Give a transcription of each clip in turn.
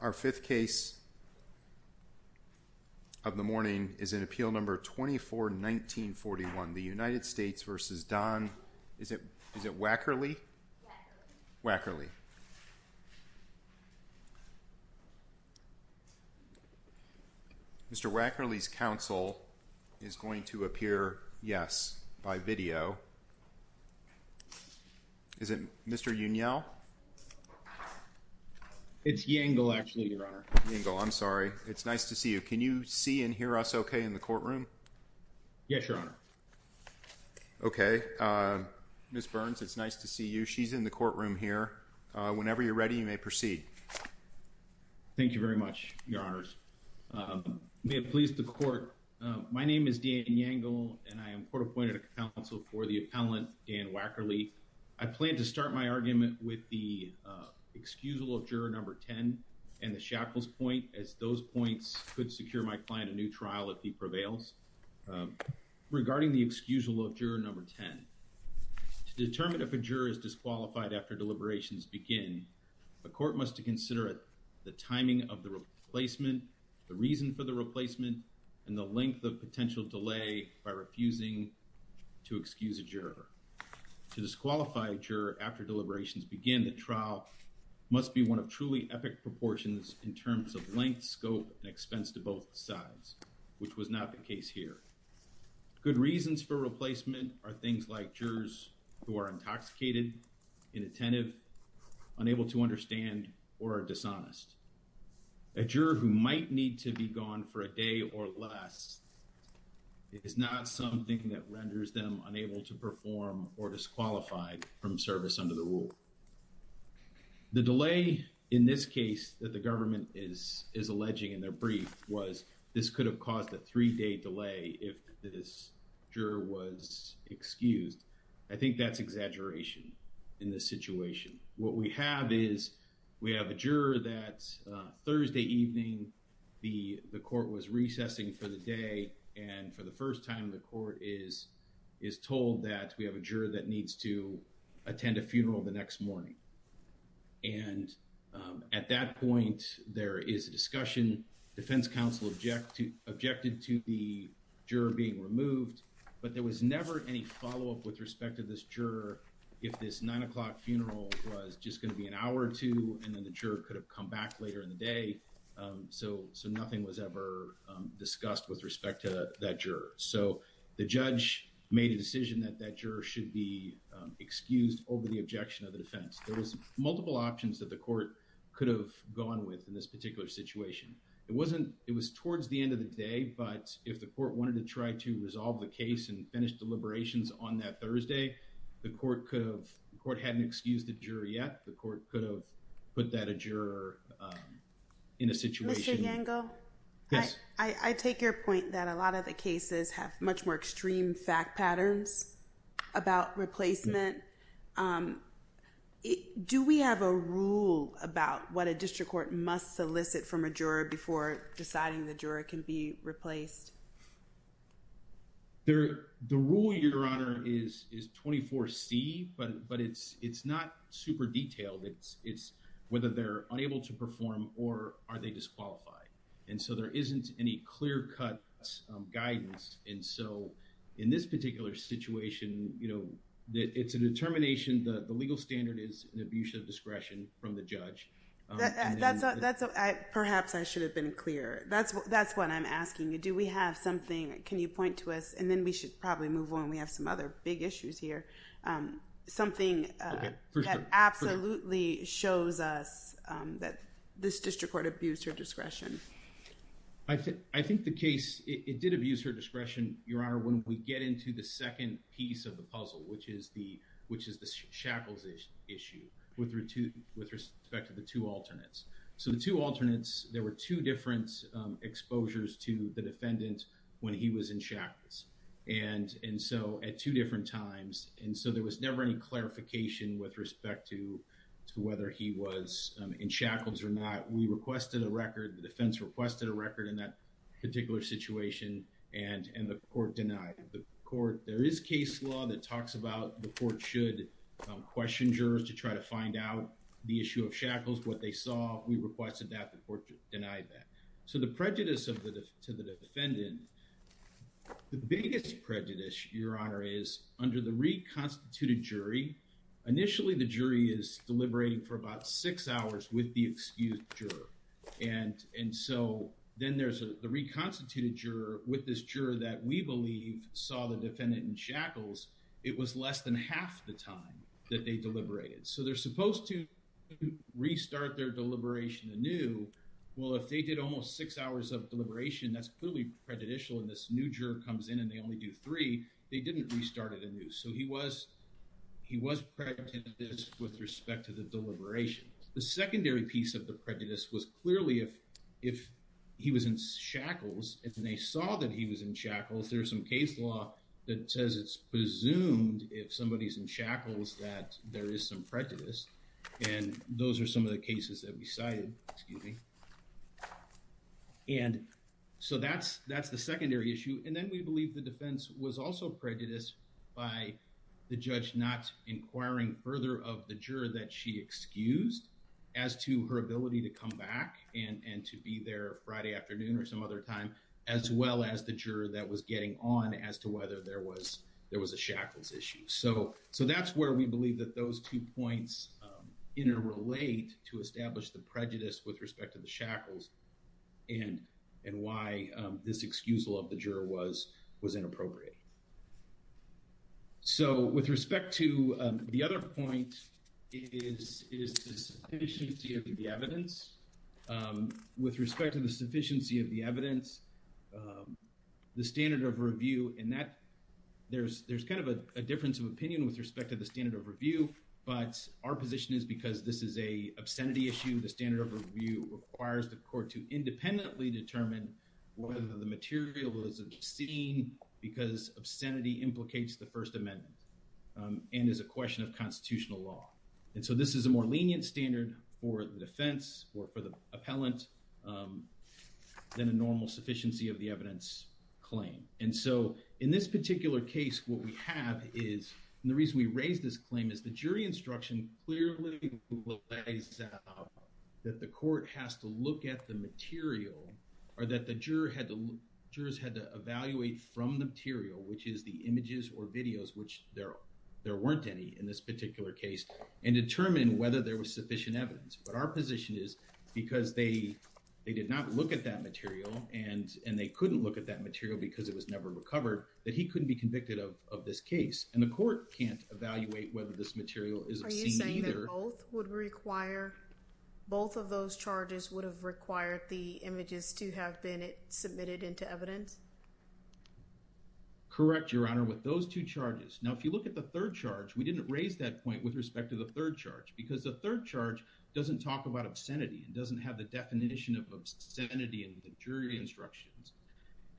Our fifth case of the morning is in Appeal No. 24-1941, the United States v. Dan Waeckerle, Waeckerle. Mr. Waeckerle's counsel is going to appear, yes, by video. Is it Mr. Unyell? It's Yangle, actually, Your Honor. Yangle, I'm sorry. It's nice to see you. Can you see and hear us okay in the courtroom? Yes, Your Honor. Okay. Ms. Burns, it's nice to see you. She's in the courtroom here. Whenever you're ready, you may proceed. Thank you very much, Your Honors. May it please the Court, my name is Dan Yangle, and I am court-appointed counsel for the appellant Dan Waeckerle. I plan to start my argument with the excusal of Juror No. 10 and the shackles point, as those points could secure my client a new trial if he prevails. Regarding the excusal of Juror No. 10, to determine if a juror is disqualified after deliberations begin, a court must consider the timing of the replacement, the reason for the replacement, and the length of potential delay by refusing to excuse a juror. To disqualify a juror after deliberations begin, the trial must be one of truly epic proportions in terms of length, scope, and expense to both sides, which was not the case here. Good reasons for replacement are things like jurors who are intoxicated, inattentive, unable to understand, or are dishonest. A juror who might need to be gone for a day or less is not something that renders them unable to perform or disqualified from service under the rule. The delay in this case that the government is alleging in their brief was this could have caused a three-day delay if this juror was excused. I think that's exaggeration in this situation. What we have is, we have a juror that Thursday evening the, the court was recessing for the day and for the first time the court is, is told that we have a juror that needs to attend a funeral the next morning. And at that point, there is a discussion, defense counsel object to, objected to the juror being removed, but there was never any follow-up with respect to this juror if this nine o'clock funeral was just going to be an hour or two and then the juror could have come back later in the day. So, so nothing was ever discussed with respect to that juror. So, the judge made a decision that that juror should be excused over the objection of the defense. There was multiple options that the court could have gone with in this particular situation. It wasn't, it was towards the end of the day, but if the court wanted to try to resolve the case and finish deliberations on that Thursday, the court could have, the court hadn't excused the juror yet. The court could have put that a juror in a situation. Mr. Yango. Yes. I, I take your point that a lot of the cases have much more extreme fact patterns about replacement. Do we have a rule about what a district court must solicit from a juror before deciding the juror can be replaced? There, the rule, Your Honor, is, is 24C, but, but it's, it's not super detailed. It's, it's whether they're unable to perform or are they disqualified. And so, there isn't any clear-cut guidance. And so, in this particular situation, you know, it's a determination that the legal standard is an abuse of discretion from the judge. That's a, that's a, I, perhaps I should have been clear. That's what, that's what I'm asking you. Do we have something, can you point to us, and then we should probably move on. We have some other big issues here. Something that absolutely shows us that this district court abused her discretion. I think, I think the case, it did abuse her discretion, Your Honor, when we get into the second piece of the puzzle, which is the, which is the shackles issue. With, with respect to the two alternates. So, the two alternates, there were two different exposures to the defendant when he was in shackles. And, and so, at two different times, and so there was never any clarification with respect to, to whether he was in shackles or not. We requested a record, the defense requested a record in that particular situation, and, and the court denied. The court, there is case law that talks about the court should question jurors to try to find out the issue of shackles, what they saw. We requested that, the court denied that. So the prejudice of the, to the defendant, the biggest prejudice, Your Honor, is under the reconstituted jury. Initially, the jury is deliberating for about six hours with the excused juror. And, and so, then there's a, the reconstituted juror with this juror that we believe saw the defendant in shackles, it was less than half the time that they deliberated. So they're supposed to restart their deliberation anew. Well, if they did almost six hours of deliberation, that's clearly prejudicial, and this new juror comes in and they only do three, they didn't restart it anew. So he was, he was prejudiced with respect to the deliberation. The secondary piece of the prejudice was clearly if, if he was in shackles, and they saw that he was in shackles, there's some case law that says it's presumed if somebody's in shackles that there is some prejudice. And those are some of the cases that we cited, excuse me. And so that's, that's the secondary issue. And then we believe the defense was also prejudiced by the judge not inquiring further of the juror that she excused as to her ability to come back and, and to be there Friday afternoon or some other time, as well as the juror that was getting on as to whether there was, there was a shackles issue. So, so that's where we believe that those two points interrelate to establish the prejudice with respect to the shackles and, and why this excusal of the juror was, was inappropriate. So with respect to the other point is, is the sufficiency of the evidence. With respect to the sufficiency of the evidence, the standard of review and that there's, there's kind of a difference of opinion with respect to the standard of review, but our position is because this is a obscenity issue. The standard of review requires the court to independently determine whether the material is obscene because obscenity implicates the First Amendment and is a question of constitutional law. And so this is a more lenient standard for the defense or for the appellant than a normal sufficiency of the evidence claim. And so, in this particular case, what we have is, and the reason we raised this claim is the jury instruction clearly lays out that the court has to look at the material or that the juror had to, jurors had to evaluate from the material, which is the images or videos, which there, there weren't any in this particular case and determine whether there was sufficient evidence. But our position is because they, they did not look at that material and, and they couldn't look at that material because it was never recovered, that he couldn't be convicted of, of this case and the court can't evaluate whether this material is obscene either. Are you saying that both would require, both of those charges would have required the images to have been submitted into evidence? Correct, Your Honor. With those two charges. Now, if you look at the third charge, we didn't raise that point with respect to the third charge because the third charge doesn't talk about obscenity. It doesn't have the definition of obscenity in the jury instructions.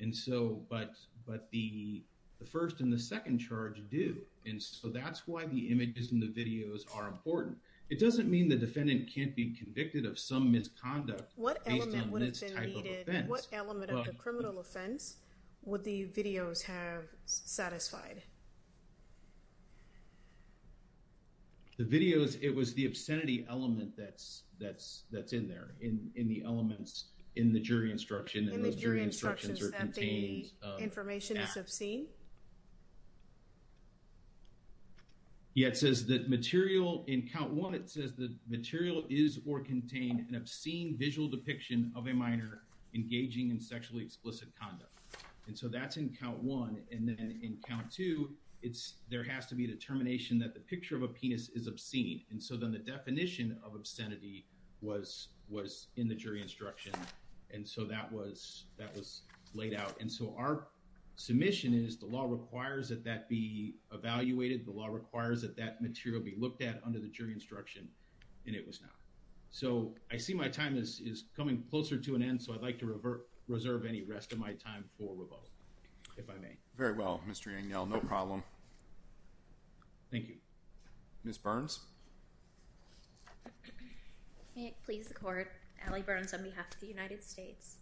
And so, but, but the, the first and the second charge do. And so that's why the images and the videos are important. It doesn't mean the defendant can't be convicted of some misconduct based on this type of offense. What element of the criminal offense would the videos have satisfied? The videos, it was the obscenity element that's, that's, that's in there in, in the elements in the jury instruction. In the jury instructions that the information is obscene? Yeah, it says that material in count one, it says the material is or contain an obscene visual depiction of a minor engaging in sexually explicit conduct. And so that's in count one. And then in count two, it's, there has to be a determination that the picture of a penis is obscene. And so then the definition of obscenity was, was in the jury instruction. And so that was, that was laid out. And so our submission is the law requires that that be evaluated. The law requires that that material be looked at under the jury instruction. And it was not. So I see my time is, is coming closer to an end. So I'd like to revert, reserve any rest of my time for rebuttal, if I may. Very well, Mr. Daniel, no problem. Thank you. Ms. Burns. May it please the court, Allie Burns on behalf of the United States.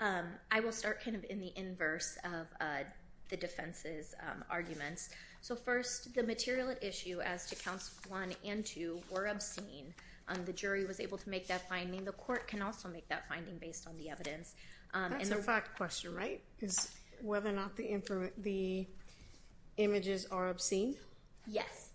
I will start kind of in the inverse of the defense's arguments. So first, the material at issue as to counts one and two were obscene. The jury was able to make that finding. The court can also make that finding based on the evidence. That's a fact question, right? Is whether or not the images are obscene? Yes.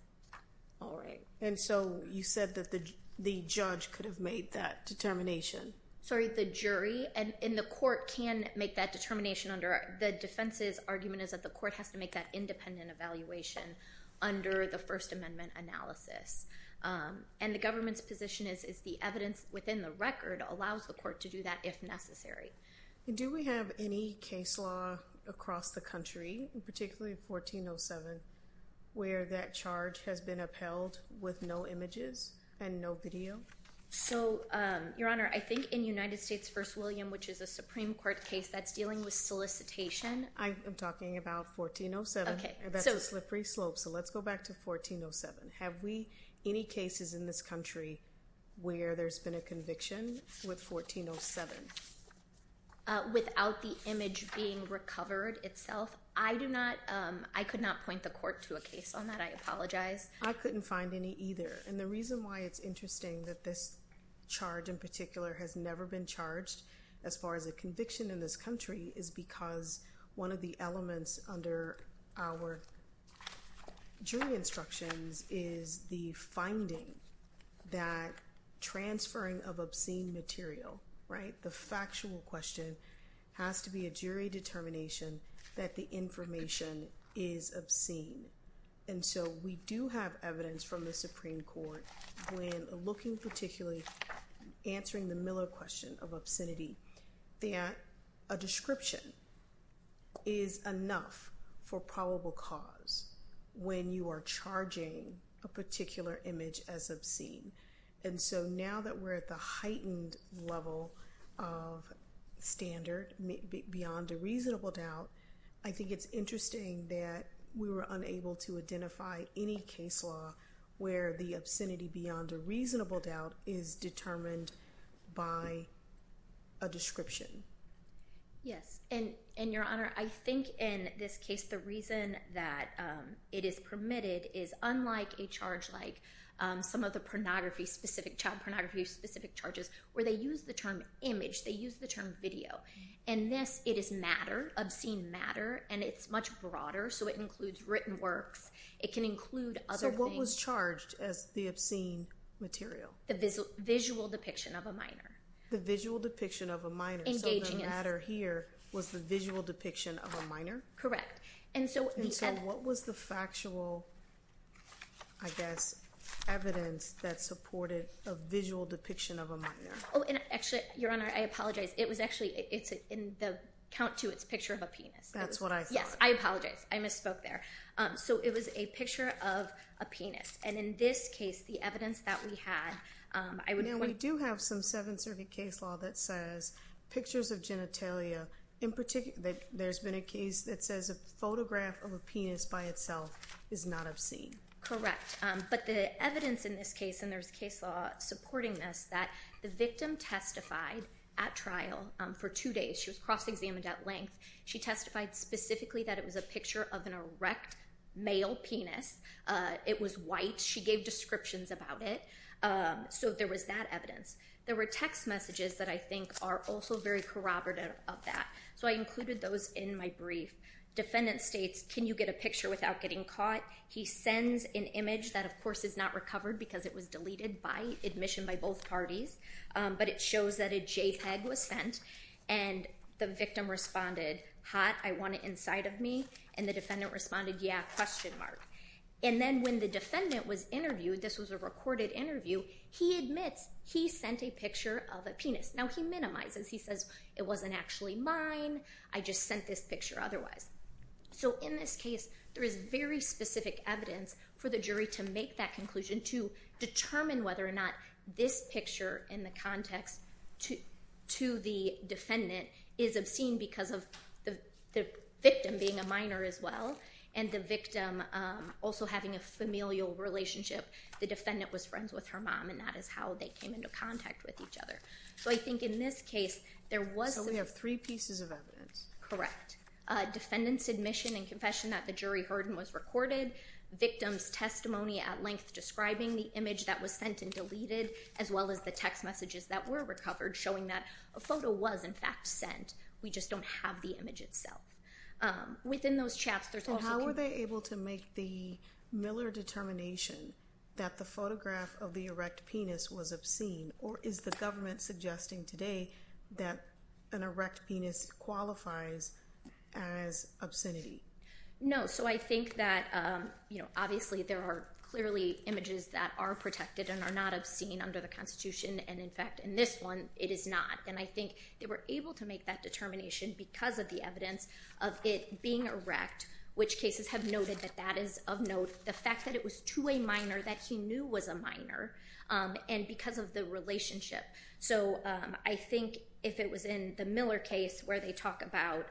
All right. And so you said that the, the judge could have made that determination. Sorry, the jury and in the court can make that determination under the defense's argument is that the court has to make that independent evaluation under the First Amendment analysis. And the government's position is, is the evidence within the record allows the court to do that if necessary. Do we have any case law across the country, particularly 1407, where that charge has been upheld with no images and no video? So, Your Honor, I think in United States v. William, which is a Supreme Court case that's dealing with solicitation. I am talking about 1407. Okay. That's a slippery slope. So let's go back to 1407. Have we any cases in this country where there's been a conviction with 1407? Without the image being recovered itself, I do not, I could not point the court to a case on that. I apologize. I couldn't find any either. And the reason why it's interesting that this charge in particular has never been charged as far as a conviction in this country is because one of the elements under our jury instructions is the finding that transferring of obscene material, right? The factual question has to be a jury determination that the information is obscene. And so we do have evidence from the Supreme Court when looking particularly, answering the Miller question of obscenity, that a description is enough for probable cause when you are charging a particular image as obscene. And so now that we're at the heightened level of standard beyond a reasonable doubt, I think it's interesting that we were unable to identify any case law where the obscenity beyond a reasonable doubt is determined by a description. Yes, and Your Honor, I think in this case, the reason that it is permitted is unlike a charge like some of the pornography-specific, child pornography-specific charges where they use the term image. They use the term video. In this, it is matter, obscene matter, and it's much broader, so it includes written works. It can include other things. So what was charged as the obscene material? The visual depiction of a minor. The visual depiction of a minor. So the matter here was the visual depiction of a minor? And so what was the factual, I guess, evidence that supported a visual depiction of a minor? Oh, and actually, Your Honor, I apologize. It was actually in the count to its picture of a penis. That's what I thought. Yes, I apologize. I misspoke there. So it was a picture of a penis. And in this case, the evidence that we had, I would point— Now, we do have some Seventh Circuit case law that says pictures of genitalia. In particular, there's been a case that says a photograph of a penis by itself is not obscene. Correct. But the evidence in this case, and there's case law supporting this, that the victim testified at trial for two days. She was cross-examined at length. She testified specifically that it was a picture of an erect male penis. It was white. She gave descriptions about it. So there was that evidence. There were text messages that I think are also very corroborative of that. So I included those in my brief. Defendant states, can you get a picture without getting caught? He sends an image that, of course, is not recovered because it was deleted by admission by both parties. But it shows that a JPEG was sent. And the victim responded, hot, I want it inside of me. And the defendant responded, yeah, question mark. And then when the defendant was interviewed, this was a recorded interview, he admits he sent a picture of a penis. Now, he minimizes. He says it wasn't actually mine. I just sent this picture otherwise. So in this case, there is very specific evidence for the jury to make that conclusion, to determine whether or not this picture in the context to the defendant is obscene because of the victim being a minor as well and the victim also having a familial relationship. The defendant was friends with her mom, and that is how they came into contact with each other. So I think in this case, there was— So we have three pieces of evidence. Correct. Defendant's admission and confession that the jury heard and was recorded, victim's testimony at length describing the image that was sent and deleted, as well as the text messages that were recovered showing that a photo was, in fact, sent. We just don't have the image itself. Within those chats, there's also— How were they able to make the Miller determination that the photograph of the erect penis was obscene? Or is the government suggesting today that an erect penis qualifies as obscenity? No. So I think that, you know, obviously there are clearly images that are protected and are not obscene under the Constitution, and, in fact, in this one, it is not. And I think they were able to make that determination because of the evidence of it being erect, which cases have noted that that is of note, the fact that it was to a minor that he knew was a minor, and because of the relationship. So I think if it was in the Miller case where they talk about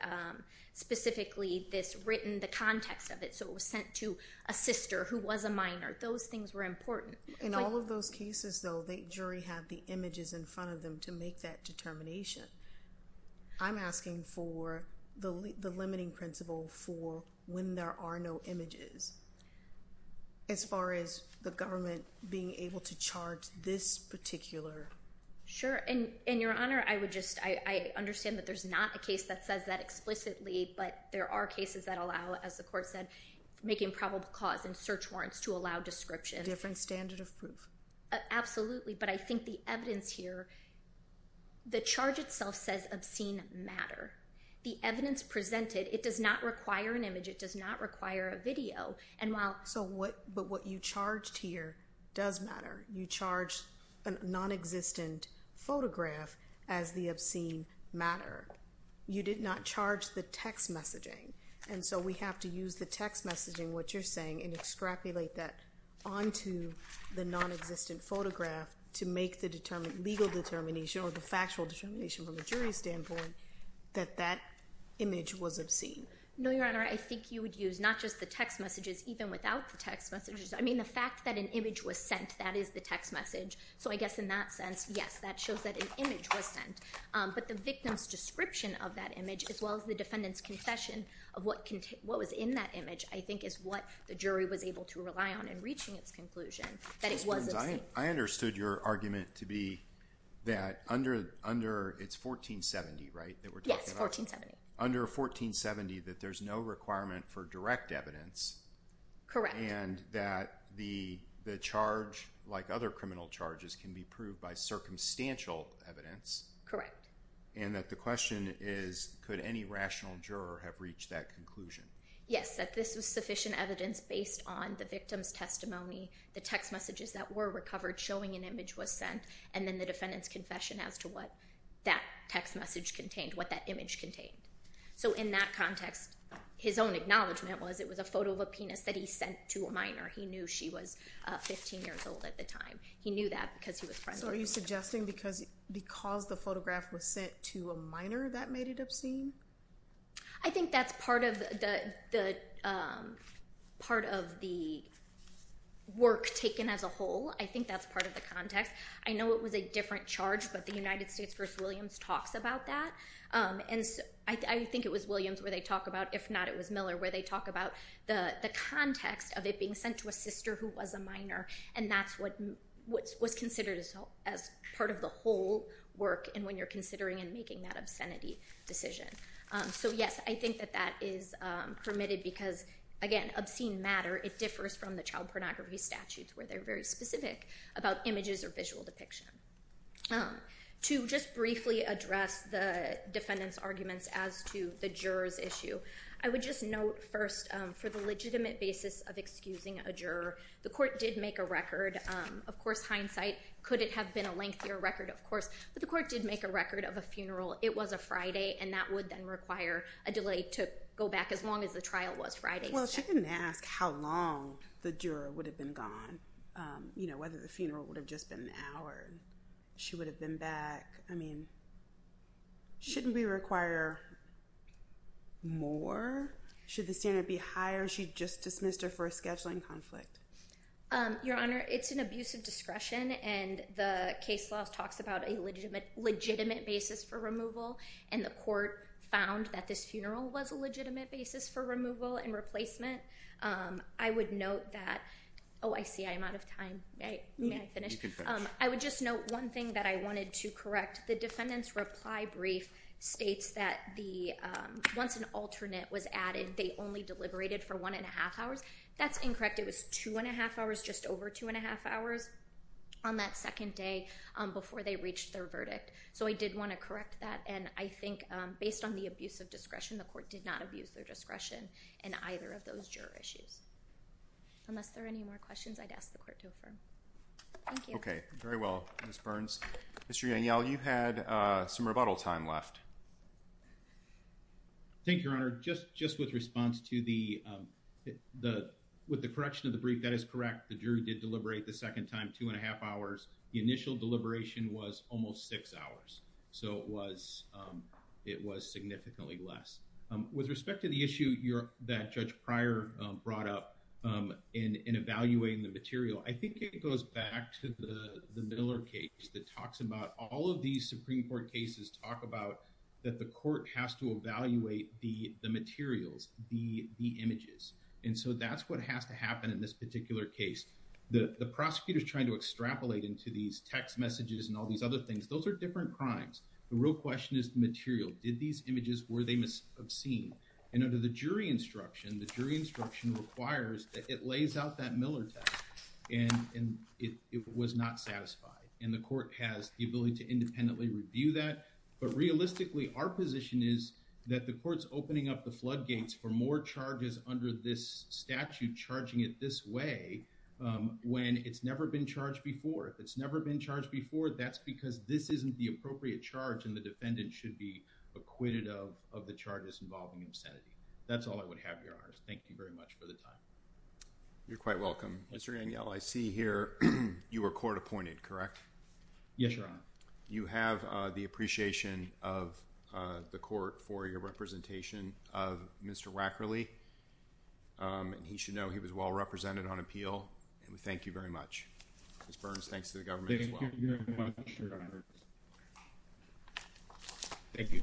specifically this written—the context of it, so it was sent to a sister who was a minor, those things were important. In all of those cases, though, the jury had the images in front of them to make that determination. I'm asking for the limiting principle for when there are no images, as far as the government being able to charge this particular— Sure. And, Your Honor, I would just—I understand that there's not a case that says that explicitly, but there are cases that allow, as the Court said, making probable cause and search warrants to allow descriptions. A different standard of proof. Absolutely, but I think the evidence here—the charge itself says obscene matter. The evidence presented—it does not require an image. It does not require a video. So what you charged here does matter. You charged a nonexistent photograph as the obscene matter. You did not charge the text messaging, and so we have to use the text messaging, what you're saying, and extrapolate that onto the nonexistent photograph to make the legal determination or the factual determination from the jury's standpoint that that image was obscene. No, Your Honor, I think you would use not just the text messages, even without the text messages. I mean, the fact that an image was sent, that is the text message. So I guess in that sense, yes, that shows that an image was sent. But the victim's description of that image, as well as the defendant's confession of what was in that image, I think is what the jury was able to rely on in reaching its conclusion that it was obscene. I understood your argument to be that under—it's 1470, right, that we're talking about? Yes, 1470. Under 1470 that there's no requirement for direct evidence. Correct. And that the charge, like other criminal charges, can be proved by circumstantial evidence. Correct. And that the question is, could any rational juror have reached that conclusion? Yes, that this was sufficient evidence based on the victim's testimony, the text messages that were recovered showing an image was sent, and then the defendant's confession as to what that text message contained, what that image contained. So in that context, his own acknowledgment was it was a photo of a penis that he sent to a minor. He knew she was 15 years old at the time. He knew that because he was friendly. So are you suggesting because the photograph was sent to a minor, that made it obscene? I think that's part of the work taken as a whole. I think that's part of the context. I know it was a different charge, but the United States v. Williams talks about that. And I think it was Williams where they talk about, if not it was Miller, where they talk about the context of it being sent to a sister who was a minor, and that's what was considered as part of the whole work, and when you're considering and making that obscenity decision. So, yes, I think that that is permitted because, again, obscene matter, it differs from the child pornography statutes where they're very specific about images or visual depiction. To just briefly address the defendant's arguments as to the juror's issue, I would just note first for the legitimate basis of excusing a juror, the court did make a record. Of course, hindsight couldn't have been a lengthier record, of course, but the court did make a record of a funeral. It was a Friday, and that would then require a delay to go back as long as the trial was Friday. Well, she didn't ask how long the juror would have been gone, whether the funeral would have just been an hour. She would have been back. I mean, shouldn't we require more? Should the standard be higher? She just dismissed her for a scheduling conflict. Your Honor, it's an abuse of discretion, and the case law talks about a legitimate basis for removal, and the court found that this funeral was a legitimate basis for removal and replacement. I would note that – oh, I see, I'm out of time. May I finish? You can finish. I would just note one thing that I wanted to correct. The defendant's reply brief states that once an alternate was added, they only deliberated for 1-1⁄2 hours. That's incorrect. It was 2-1⁄2 hours, just over 2-1⁄2 hours on that second day before they reached their verdict. So I did want to correct that, and I think based on the abuse of discretion, the court did not abuse their discretion in either of those juror issues. Unless there are any more questions, I'd ask the court to affirm. Thank you. Okay, very well, Ms. Burns. Mr. Yangel, you had some rebuttal time left. Thank you, Your Honor. Just with response to the – with the correction of the brief, that is correct. The jury did deliberate the second time 2-1⁄2 hours. The initial deliberation was almost 6 hours, so it was significantly less. With respect to the issue that Judge Pryor brought up in evaluating the material, I think it goes back to the Miller case that talks about – all of these Supreme Court cases talk about that the court has to evaluate the materials, the images, and so that's what has to happen in this particular case. The prosecutor is trying to extrapolate into these text messages and all these other things. Those are different crimes. The real question is the material. Did these images – were they obscene? And under the jury instruction, the jury instruction requires that it lays out that Miller text, and it was not satisfied, and the court has the ability to independently review that. But realistically, our position is that the court's opening up the floodgates for more charges under this statute charging it this way when it's never been charged before. If it's never been charged before, that's because this isn't the appropriate charge and the defendant should be acquitted of the charges involving obscenity. That's all I would have, Your Honors. Thank you very much for the time. You're quite welcome. Mr. Daniel, I see here you were court appointed, correct? Yes, Your Honor. You have the appreciation of the court for your representation of Mr. Rackerley, and he should know he was well represented on appeal, and we thank you very much. Ms. Burns, thanks to the government as well. Thank you very much, Your Honor. Thank you.